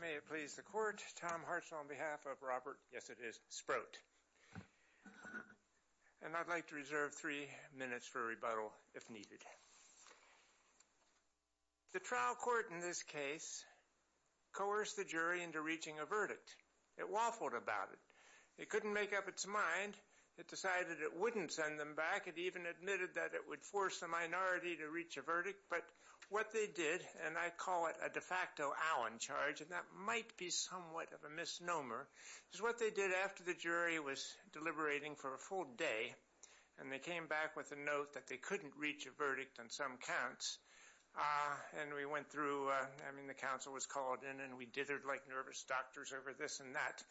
May it please the court, Tom Hartzell on behalf of Robert, yes it is, Sproat, and I'd like to reserve three minutes for a rebuttal if needed. The trial court in this case coerced the jury into reaching a verdict. It waffled about it. It couldn't make up its mind. It decided it wouldn't send them back. It even admitted that it would force the minority to reach a verdict, but what they did, and I call it a de facto Allen charge, and that might be somewhat of a misnomer, is what they did after the jury was deliberating for a full day, and they came back with a note that they couldn't reach a verdict on some counts, and we went through, I mean the counsel was called in, and we dithered like nervous doctors over this and that,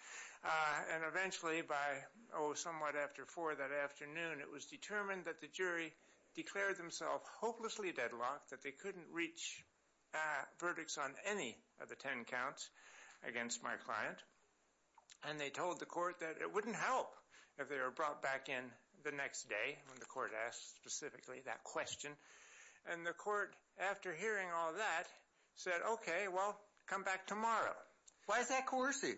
and eventually by, oh somewhat after four that afternoon, it was determined that the jury declared themselves hopelessly deadlocked, that they couldn't reach verdicts on any of the 10 counts against my client, and they told the court that it wouldn't help if they were brought back in the next day, when the court asked specifically that question, and the court, after hearing all that, said okay, well come back tomorrow. Why is that coercive?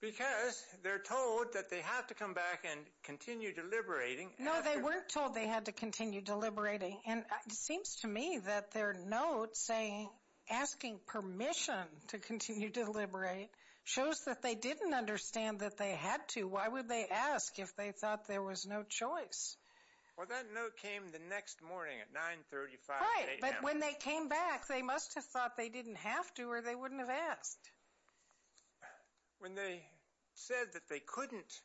Because they're told that they have to come back and continue deliberating. No, they weren't told they had to continue deliberating, and it seems to me that their note saying asking permission to continue to deliberate, shows that they didn't understand that they had to. Why would they ask if they thought there was no choice? Well that note came the next morning at 935. Right, but when they came back, they must have thought they didn't have to, or they wouldn't have asked. When they said that they couldn't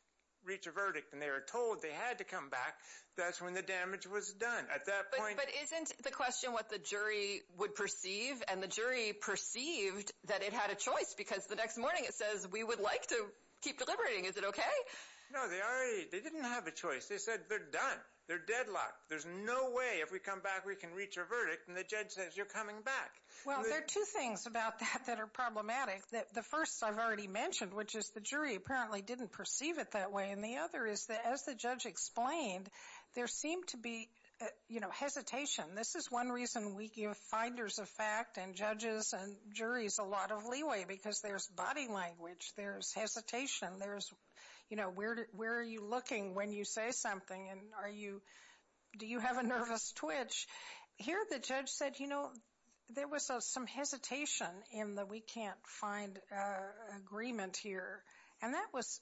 reach a verdict, and they were told they had to come back, that's when the damage was done. But isn't the question what the jury would perceive, and the jury perceived that it had a choice, because the next morning it says we would like to keep deliberating. Is it okay? No, they already, they didn't have a choice. They said they're done. They're deadlocked. There's no way if we come back we can reach a verdict, and the judge says you're coming back. Well, there are two things about that that are problematic. The first I've already mentioned, which is the jury apparently didn't perceive it that way, and the other is that as the judge explained, there seemed to be, you know, hesitation. This is one reason we give finders of fact and judges and juries a lot of leeway, because there's body language. There's hesitation. There's, you know, where are you looking when you say something, and are you, do you have a nervous twitch? Here the judge said, you know, there was some hesitation in the can't find agreement here, and that was,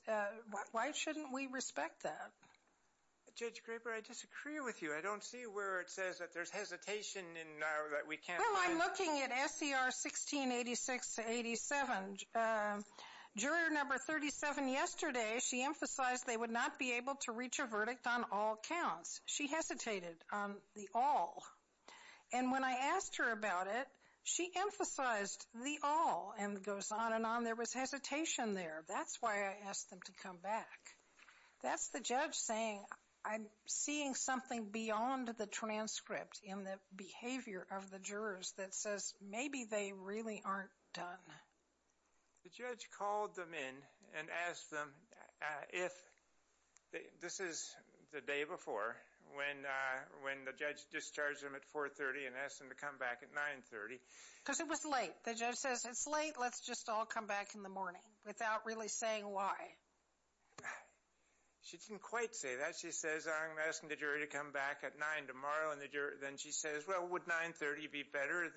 why shouldn't we respect that? Judge Graber, I disagree with you. I don't see where it says that there's hesitation in that we can't find... Well, I'm looking at SER 1686-87. Juror number 37 yesterday, she emphasized they would not be able to reach a verdict on all counts. She asked her about it. She emphasized the all, and goes on and on. There was hesitation there. That's why I asked them to come back. That's the judge saying, I'm seeing something beyond the transcript in the behavior of the jurors that says maybe they really aren't done. The judge called them in and asked them if, this is the day before, when the judge discharged them at 430 and asked them to come back at 930. Because it was late. The judge says, it's late, let's just all come back in the morning, without really saying why. She didn't quite say that. She says, I'm asking the jury to come back at 9 tomorrow, and the jury, then she says, well, would 930 be better?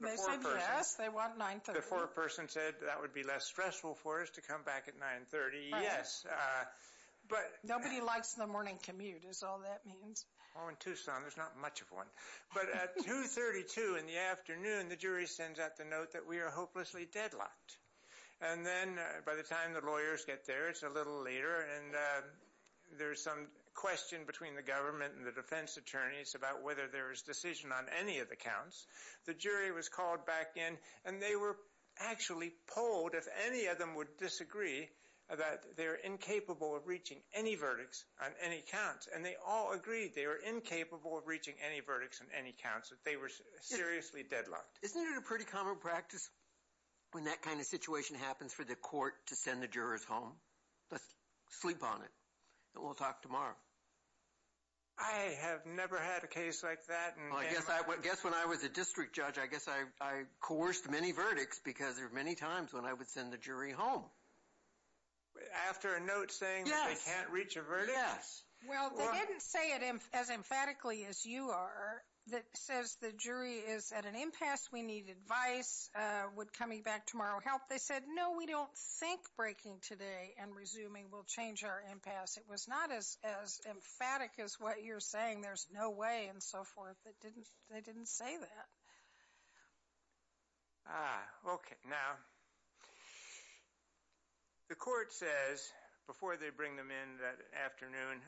They said yes, they want 930. The foreperson said that would be less stressful for us to come back at 930. Yes, but nobody likes the morning commute, is all that means. Oh, in Tucson, there's not much of one. But at 232 in the afternoon, the jury sends out the note that we are hopelessly deadlocked. And then, by the time the lawyers get there, it's a little later, and there's some question between the government and the defense attorneys about whether there is decision on any of the counts. The jury was called back in, and they were actually polled if any of them would disagree that they're incapable of reaching any verdicts on any counts. And they all agreed they were incapable of reaching any verdicts on any counts, that they were seriously deadlocked. Isn't it a pretty common practice, when that kind of situation happens, for the court to send the jurors home? Let's sleep on it, and we'll talk tomorrow. I have never had a case like that. I guess when I was a district judge, I guess I coerced many verdicts, because there were many times when I would send the jury home. After a note saying they can't reach a verdict? Yes. Well, they didn't say it as emphatically as you are, that says the jury is at an impasse, we need advice, would coming back tomorrow help? They said, no, we don't think breaking today and resuming will change our impasse. It was not as emphatic as what you're saying, there's no way, and so forth. They didn't say that. Okay, now, the court says, before they bring them in that afternoon,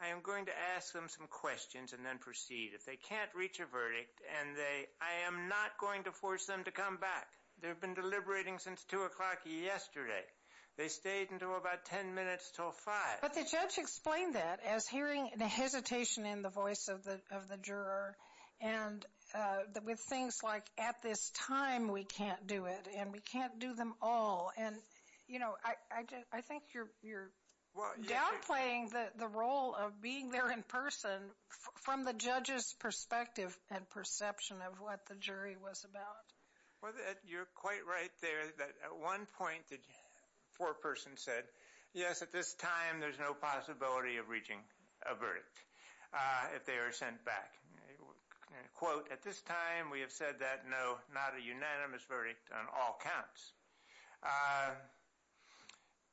I am going to ask them some questions, and then proceed. If they can't reach a verdict, and they, I am not going to force them to come back. They've been deliberating since 2 o'clock yesterday. They stayed until about 10 minutes till 5. But the judge explained that, as hearing the hesitation in the voice of the juror, and with things like, at this time we can't do it, and we can't do them all, and you know, I think you're downplaying the role of being there in person, from the judge's perspective and perception of what the jury was about. Well, you're quite right there, that at one point the foreperson said, yes, at this time there's no possibility of reaching a verdict, if they are sent back. Quote, at this time we have said that, no, not a unanimous verdict on all counts.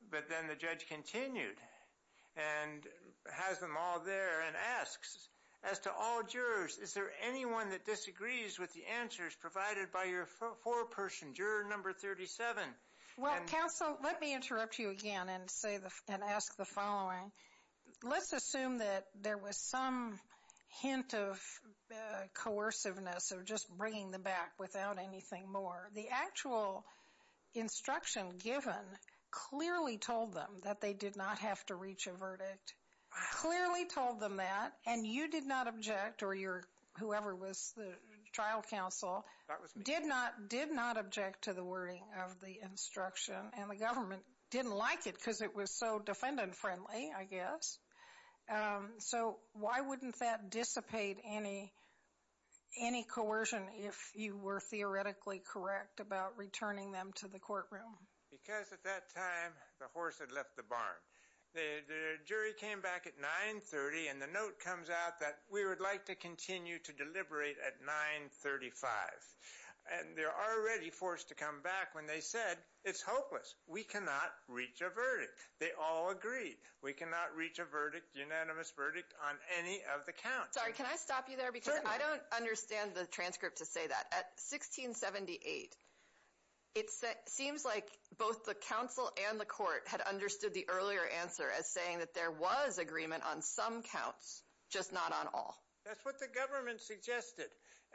But then the judge continued, and has them all there, and asks, as to all jurors, is there anyone that disagrees with the answers provided by your foreperson, juror number 37? Well, counsel, let me interrupt you again, and ask the following. Let's assume that there was some hint of coerciveness of just bringing them back without anything more. The actual instruction given clearly told them that they did not have to reach a verdict, clearly told them that, and you did not object, or your, whoever was the trial counsel, did not, did not object to the wording of the instruction, and the government didn't like it, because it was so defendant friendly, I guess. So, why wouldn't that dissipate any, any coercion, if you were theoretically correct about returning them to the courtroom? Because at that time, the horse had left the barn. The jury came back at 930, and the note comes out that we would like to continue to deliberate at 935. And they're already forced to come back when they said, it's hopeless, we cannot reach a verdict. They all agreed, we cannot reach a verdict, unanimous verdict, on any of the counts. Sorry, can I stop you there, because I don't understand the transcript to say that. At 1678, it seems like both the counsel and the court had understood the earlier answer as saying that there was agreement on some counts, just not on all. That's what the government suggested,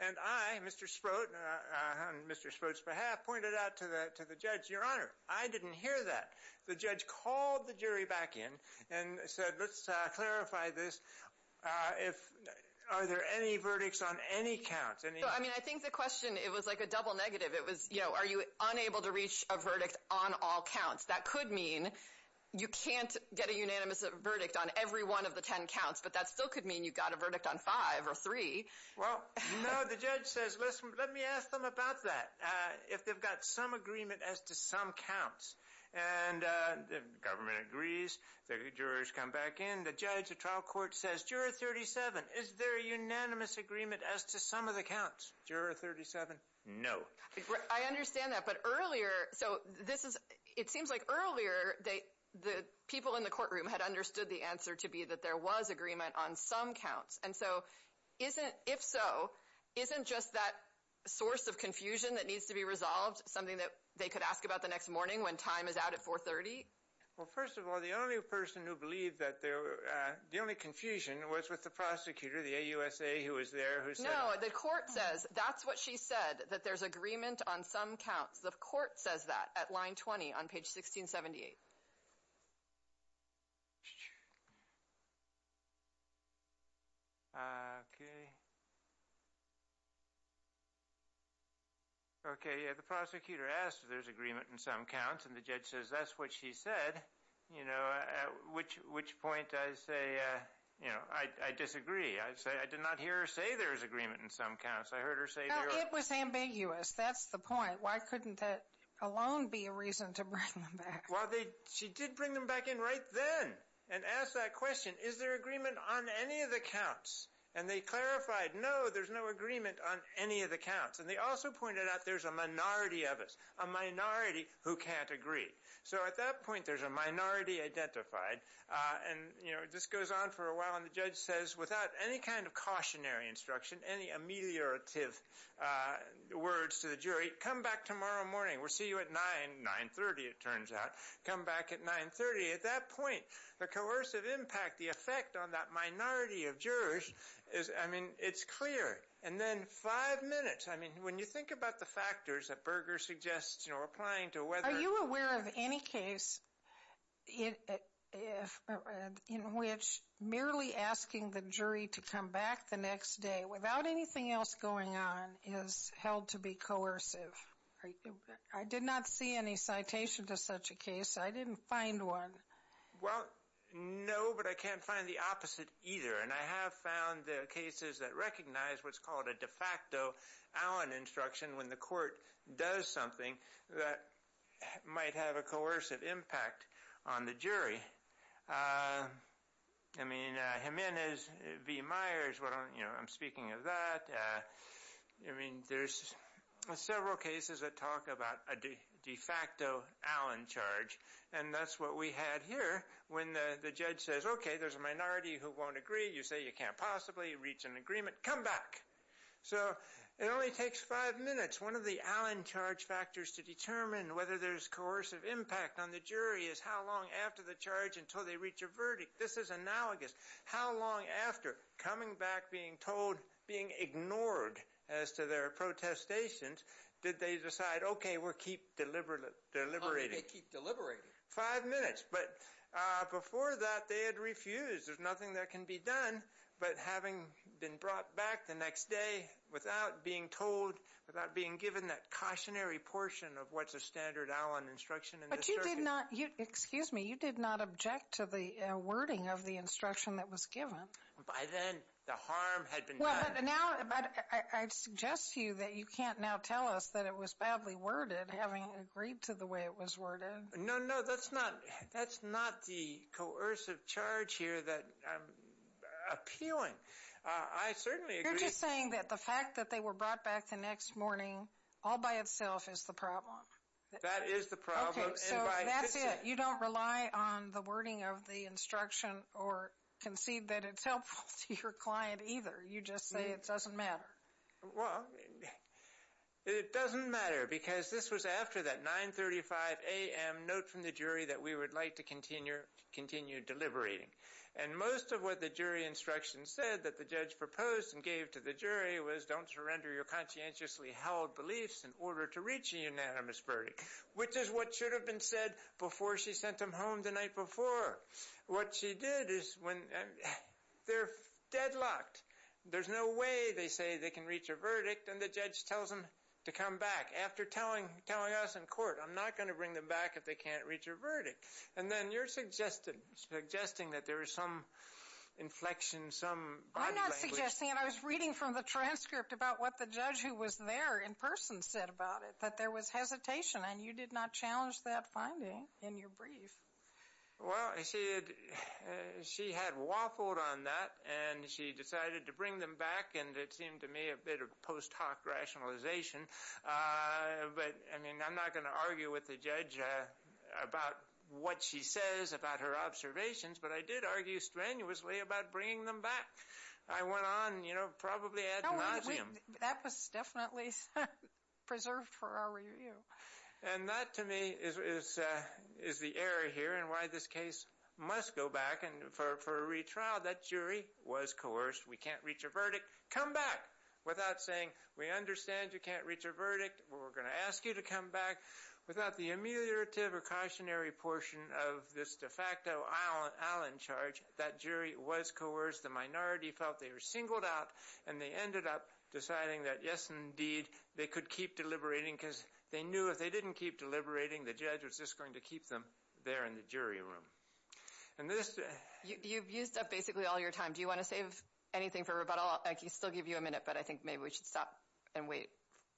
and I, Mr. Sprott, on Mr. Sprott's behalf, pointed out to the, to the judge, Your Honor, I didn't hear that. The judge called the jury back in and said, let's clarify this. If, are there any verdicts on any counts? I mean, I think the question, it was like a double negative. It was, you know, are you unable to reach a verdict on all counts? That could mean you can't get a unanimous verdict on every one of the ten counts, but that still could mean you got a verdict on five or three. Well, no, the judge says, listen, let me ask them about that. If they've got some agreement as to some counts, and the government agrees, the jurors come back in, the judge, the trial court says, Juror 37, is there a unanimous agreement as to some of the counts? Juror 37? No. I understand that, but earlier, so this is, it seems like earlier, they, the people in the courtroom had understood the answer to be that there was agreement on some counts, and so, isn't, if so, isn't just that source of confusion that needs to be resolved something that they could ask about the next morning when time is out at 430? Well, first of all, the only person who believed that there, the only confusion was with the prosecutor, the AUSA, who was there, who said... No, the court says, that's what she said, that there's agreement on some counts. The court says that at line 20 on page 1678. Okay. Okay, yeah, the prosecutor asked if there's agreement in some counts, and the judge says, that's what she said, you know, at which, which point I say, you know, I disagree. I'd say, I did not hear her say there's agreement in some counts. I heard her say... No, it was ambiguous. That's the point. Why couldn't that alone be a reason to bring them back? Well, they, she did bring them back in right then and ask that question, is there agreement on any of the counts? And they clarified, no, there's no agreement on any of the counts, and they also pointed out there's a minority of us, a minority who can't agree. So, at that point, there's a minority identified, and, you know, this goes on for a while, and the judge says, without any kind of cautionary instruction, any ameliorative words to the jury, come back tomorrow morning. We'll see you at 9, 930 it turns out. Come back at 930. At that point, the coercive impact, the effect on that minority of jurors is, I mean, it's clear. And then five minutes, I mean, when you think about the factors that Berger suggests, you know, applying to whether... Are you aware of any case in which merely asking the jury to come back the next day without anything else going on is held to be coercive? I did not see any citation to such a case. I didn't find one. Well, no, but I can't find the opposite either. And I have found the cases that recognize what's called a de facto Allen instruction when the court does something that might have a coercive impact on the jury. I mean, Jimenez v. Myers, you know, I'm speaking of that. I mean, there's several cases that talk about a de facto Allen charge, and that's what we had here when the judge says, okay, there's a minority who won't agree. You say you can't possibly reach an agreement. Come back. So it only takes five minutes. One of the Allen charge factors to determine whether there's coercive impact on the jury is how long after the charge until they reach a verdict. This is analogous. How long after coming back, being told, being ignored as to their protestations, did they decide, okay, we'll keep deliberating? How did they keep deliberating? Five minutes. But before that, they had refused. There's nothing that can be done. But having been brought back the next day without being told, without being given that cautionary portion of what's a standard Allen instruction in this circuit. But you did not, excuse me, you did not object to the wording of the instruction that was given. By then, the harm had been done. Well, but now, I suggest to you that you can't now tell us that it was badly worded, having agreed to the way it was worded. No, no, that's not, that's not the coercive charge here that I'm appealing. I certainly agree. You're just saying that the fact that they were brought back the next morning all by itself is the problem. That is the problem. Okay, so that's it. You don't rely on the wording of the instruction or concede that it's helpful to your client either. You just say it doesn't matter. Well, it doesn't matter because this was after that 935 AM note from the jury that we would like to continue, continue deliberating. And most of what the jury instruction said that the judge proposed and gave to the jury was don't surrender your conscientiously held beliefs in order to reach a unanimous verdict, which is what should have been said before she sent them home the night before. What she did is when, they're deadlocked. There's no way they say they can reach a verdict and the judge tells them to come back after telling, telling us in court I'm not going to bring them back if they can't reach a verdict. And then you're suggesting, suggesting that there is some inflection, some body language. I'm not suggesting, and I was reading from the transcript about what the judge who was there in person said about it, that there was hesitation and you did not challenge that finding in your brief. Well, she had, she had waffled on that and she decided to bring them back and it seemed to me a bit of post hoc rationalization. But I mean, I'm not going to argue with the judge about what she says about her observations, but I did argue strenuously about bringing them back. I went on, you know, probably ad nauseam. That was definitely preserved for our review. And that to me is, is the error here and why this case must go back and for a retrial that jury was coerced. We can't reach a verdict. Come back without saying we understand you can't reach a verdict. We're going to ask you to come back without the ameliorative or cautionary portion of this de facto Allen charge. That jury was coerced. The minority felt they were singled out and they ended up deciding that yes, indeed, they could keep deliberating because they knew if they didn't keep deliberating, the judge was just going to keep them there in the jury room. And this... You've used up basically all your time. Do you want to save anything for rebuttal? I can still give you a minute, but I think maybe we should stop and wait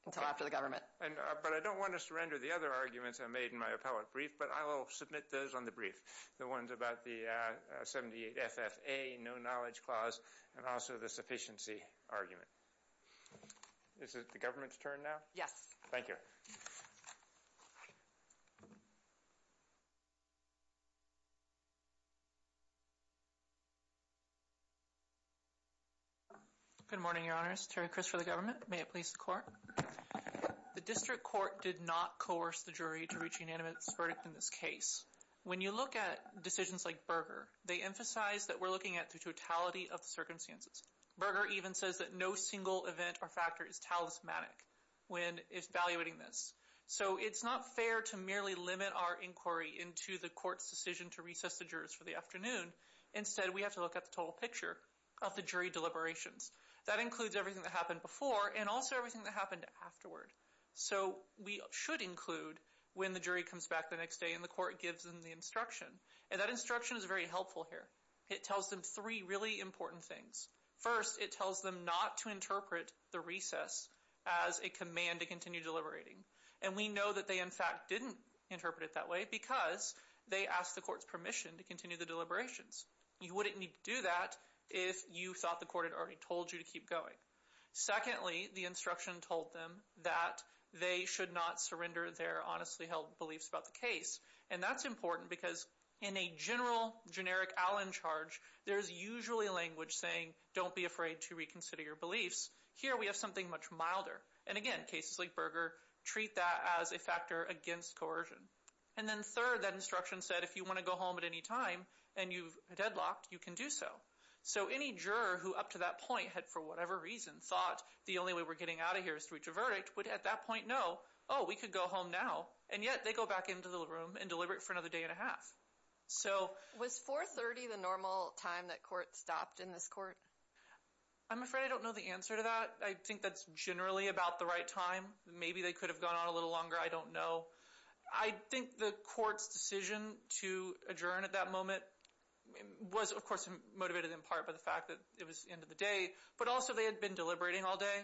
until after the permit. But I don't want to surrender the other arguments I made in my appellate brief, but I will submit those on the brief. The ones about the 78 FFA, no knowledge clause, and also the sufficiency argument. Is it the government's turn now? Yes. Thank you. Good morning, your honors. Terry Chris for the government. May it please the court. The district court did not coerce the jury to reach unanimous verdict in this case. When you look at decisions like Berger, they emphasize that we're looking at the totality of the circumstances. Berger even says that no single event or factor is talismanic when evaluating this. So it's not fair to merely limit our inquiry into the court's decision to recess the jurors for the afternoon. Instead, we have to look at the total picture of the jury deliberations. That includes everything that happened before and also everything that happened afterward. So we should include when the jury comes back the next day and the court gives them the instruction. And that instruction is very helpful here. It tells them three really important things. First, it tells them not to interpret the recess as a command to continue deliberating. And we know that they in fact didn't interpret it that way because they asked the court's permission to continue the deliberations. You wouldn't need to do that if you thought the court had already told you to keep going. Secondly, the instruction told them that they should not surrender their honestly held beliefs about the case. And that's important because in a general generic Allen charge, there's usually language saying don't be afraid to reconsider your beliefs. Here we have something much milder. And again, cases like Berger treat that as a factor against coercion. And then third, that instruction said if you want to go home at any time and you've deadlocked, you can do so. So any juror who up to that point had for whatever reason thought the only way we're getting out of here is to reach a verdict, would at that point know, oh we could go home now. And yet they go back into the room and deliberate for another day and a half. So was 430 the normal time that court stopped in this court? I'm afraid I don't know the answer to that. I think that's generally about the right time. Maybe they could have gone on a little longer. I don't know. I think the court's decision to adjourn at that moment was of course motivated in part by the fact that it was the end of the day. But also they had been deliberating all day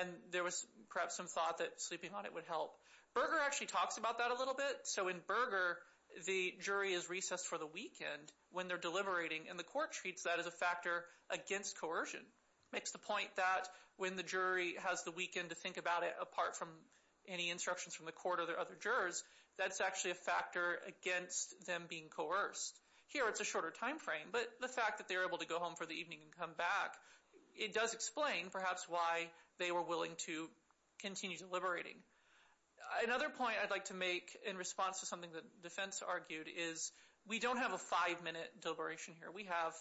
and there was perhaps some thought that sleeping on it would help. Berger actually talks about that a little bit. So in Berger, the jury is recessed for the weekend when they're deliberating and the court treats that as a factor against coercion. Makes the point that when the jury has the weekend to think about it apart from any instructions from the court or their other jurors, that's actually a factor against them being coerced. Here it's a shorter timeframe, but the fact that they're able to go home for the evening and come back, it does explain perhaps why they were willing to continue deliberating. Another point I'd like to make in response to something that defense argued is we don't have a five-minute deliberation here. We have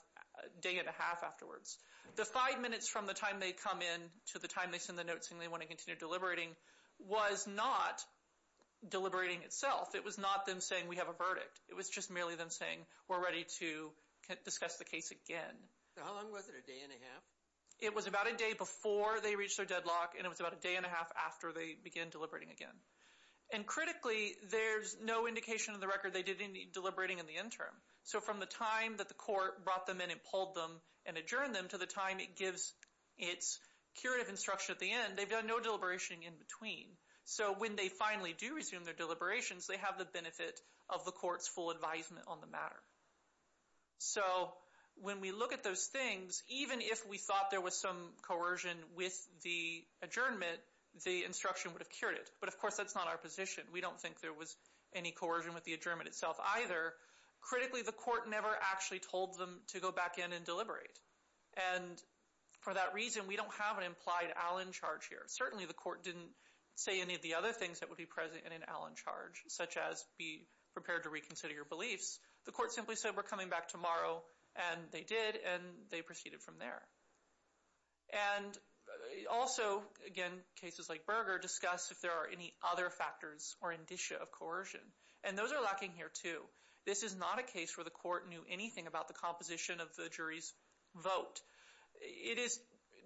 a day and a half afterwards. The five minutes from the time they come in to the time they send the notes and they want to continue deliberating was not deliberating itself. It was not them saying we have a verdict. It was just merely them saying we're ready to discuss the case again. How long was it? A day and a half? It was about a day before they reached their deadlock and it was about a day and a half after they began deliberating again. And critically, there's no indication of the record they did any deliberating in the interim. So from the time that the court brought them in and pulled them and adjourned them to the time it gives its curative instruction at the end, they've done no deliberation in between. So when they finally do resume their deliberations, they have the benefit of the court's full advisement on the matter. So when we look at those things, even if we thought there was some coercion with the adjournment, the instruction would have cured it. But of course that's not our position. We don't think there was any coercion with the adjournment itself either. Critically, the court never actually told them to go back in and deliberate. And for that reason, we don't have an implied Allen charge here. Certainly the court didn't say any of the other things that would be present in an Allen charge, such as be prepared to reconsider your beliefs. The court simply said we're coming back tomorrow and they did and they proceeded from there. And also, again, cases like Berger discuss if there are any other factors or indicia of coercion. And those are lacking here too. This is not a case where the court knew anything about the composition of the jury's vote. It is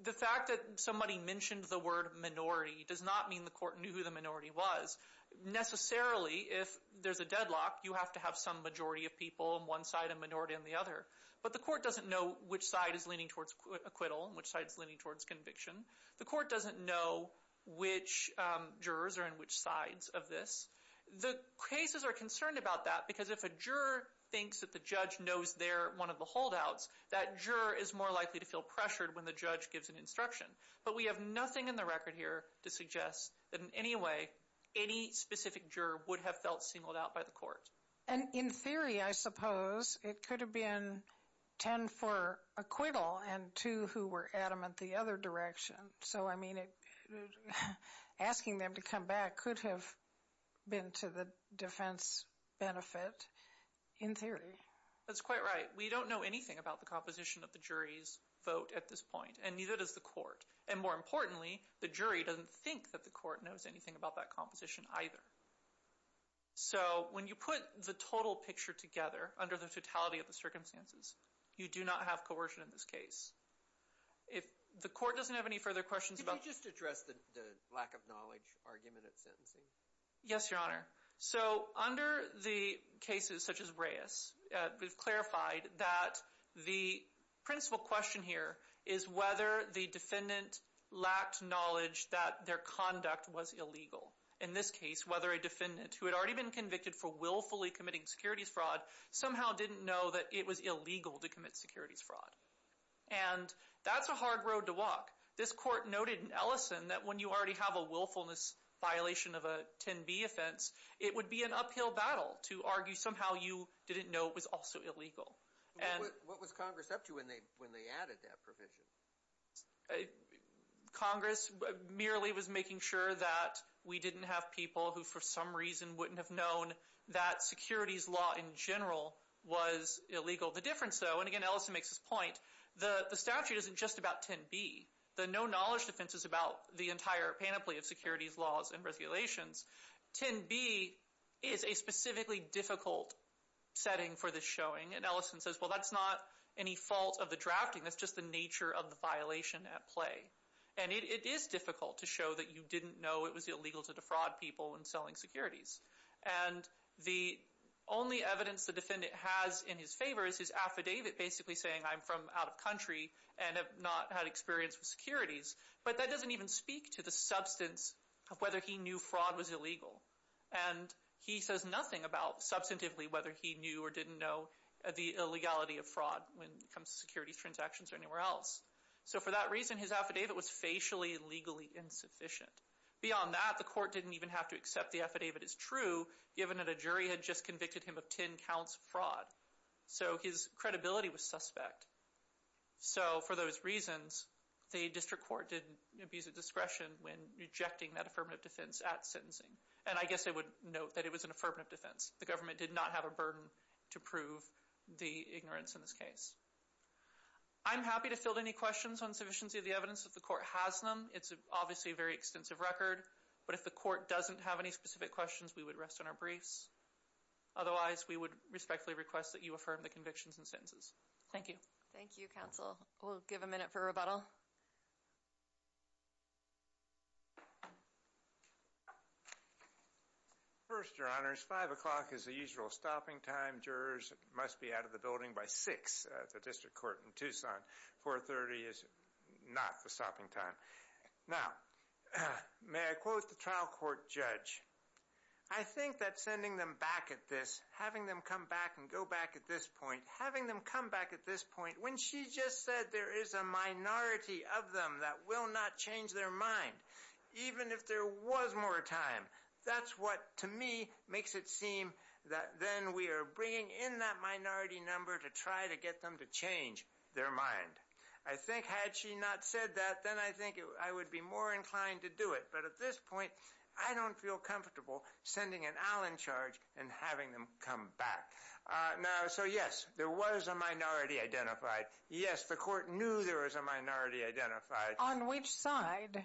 the fact that somebody mentioned the word minority does not mean the court knew who the minority was. Necessarily, if there's a deadlock, you have to have some majority of people on one side and minority on the other. But the court doesn't know which side is leaning towards acquittal and which side is leaning towards conviction. The court doesn't know which jurors are in which sides of this. The cases are concerned about that because if a juror thinks that the judge knows they're one of the holdouts, that juror is more likely to feel pressured when the judge gives an instruction. But we have nothing in the record here to suggest that in any way any specific juror would have felt singled out by the court. And in theory, I suppose, it could have been ten for acquittal and two who were adamant the other direction. So, I mean, asking them to come back could have been to the defense benefit in theory. That's quite right. We don't know anything about the composition of the jury's vote at this point and neither does the court. And more importantly, the jury doesn't think that the court knows anything about that composition either. So, when you put the total picture together under the totality of the circumstances, you do not have coercion in this case. If the court doesn't have any further questions about... Could you just address the lack of knowledge argument at sentencing? Yes, Your Honor. So, under the cases such as Reyes, we've clarified that the principal question here is whether the defendant lacked knowledge that their conduct was illegal. In this case, whether a defendant who had already been convicted for willfully committing securities fraud somehow didn't know that it was illegal to commit securities fraud. And that's a hard road to walk. This court noted in Ellison that when you already have a willfulness violation of a 10b offense, it would be an uphill battle to argue somehow you didn't know it was also illegal. What was Congress up to when they added that provision? Congress merely was making sure that we didn't have people who for some reason wouldn't have known that securities law in general was illegal. The difference, though, and again Ellison makes this point, the statute isn't just about 10b. The no-knowledge defense is about the entire panoply of securities laws and regulations. 10b is a And Ellison says, well, that's not any fault of the drafting. That's just the nature of the violation at play. And it is difficult to show that you didn't know it was illegal to defraud people in selling securities. And the only evidence the defendant has in his favor is his affidavit basically saying I'm from out of country and have not had experience with securities. But that doesn't even speak to the substance of whether he knew fraud was illegal. And he says nothing about substantively whether he knew or didn't know the illegality of fraud when it comes to securities transactions or anywhere else. So for that reason his affidavit was facially legally insufficient. Beyond that, the court didn't even have to accept the affidavit as true given that a jury had just convicted him of 10 counts of fraud. So his credibility was suspect. So for those reasons, the district court didn't abuse of discretion when rejecting that affirmative defense at sentencing. And I guess I would note that it was an affirmative defense. The government did not have a burden to prove the ignorance in this case. I'm happy to field any questions on sufficiency of the evidence if the court has them. It's obviously a very extensive record. But if the court doesn't have any specific questions, we would rest on our briefs. Otherwise, we would respectfully request that you affirm the convictions and sentences. Thank you. Thank you, counsel. We'll give a minute for rebuttal. First, your honors, 5 o'clock is the usual stopping time. Jurors must be out of the building by 6 at the district court in Tucson. 4.30 is not the stopping time. Now, may I quote the trial court judge? I think that sending them back at this, having them come back and go back at this point, having them come back at this point, when she just said there is a minority of them that will not change their mind, even if there was more time, that's what, to me, makes it seem that then we are bringing in that minority number to try to get them to change their mind. I think had she not said that, then I think I would be more inclined to do it. But at this point, I don't feel comfortable sending an Allen charge and having them come back. Now, so yes, there was a minority identified. Yes, the court knew there was a minority identified. On which side?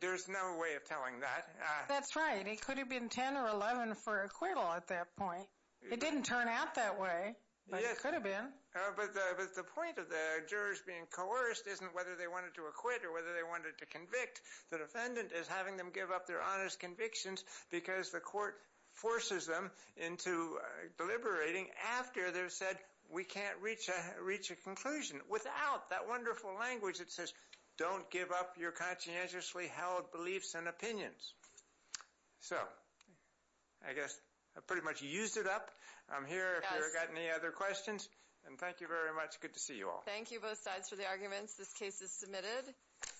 There's no way of telling that. That's right. It could have been 10 or 11 for acquittal at that point. It didn't turn out that way, but it could have been. But the point of the jurors being coerced isn't whether they wanted to acquit or whether they wanted to convict. The defendant is having them give up their honest convictions because the court forces them into deliberating after they've said we can't reach a reach a conclusion. Without that wonderful language that says don't give up your conscientiously held beliefs and opinions. So I guess I pretty much used it up. I'm here if you've got any other questions. And thank you very much. Good to see you all. Thank you both sides for the arguments. This case is submitted.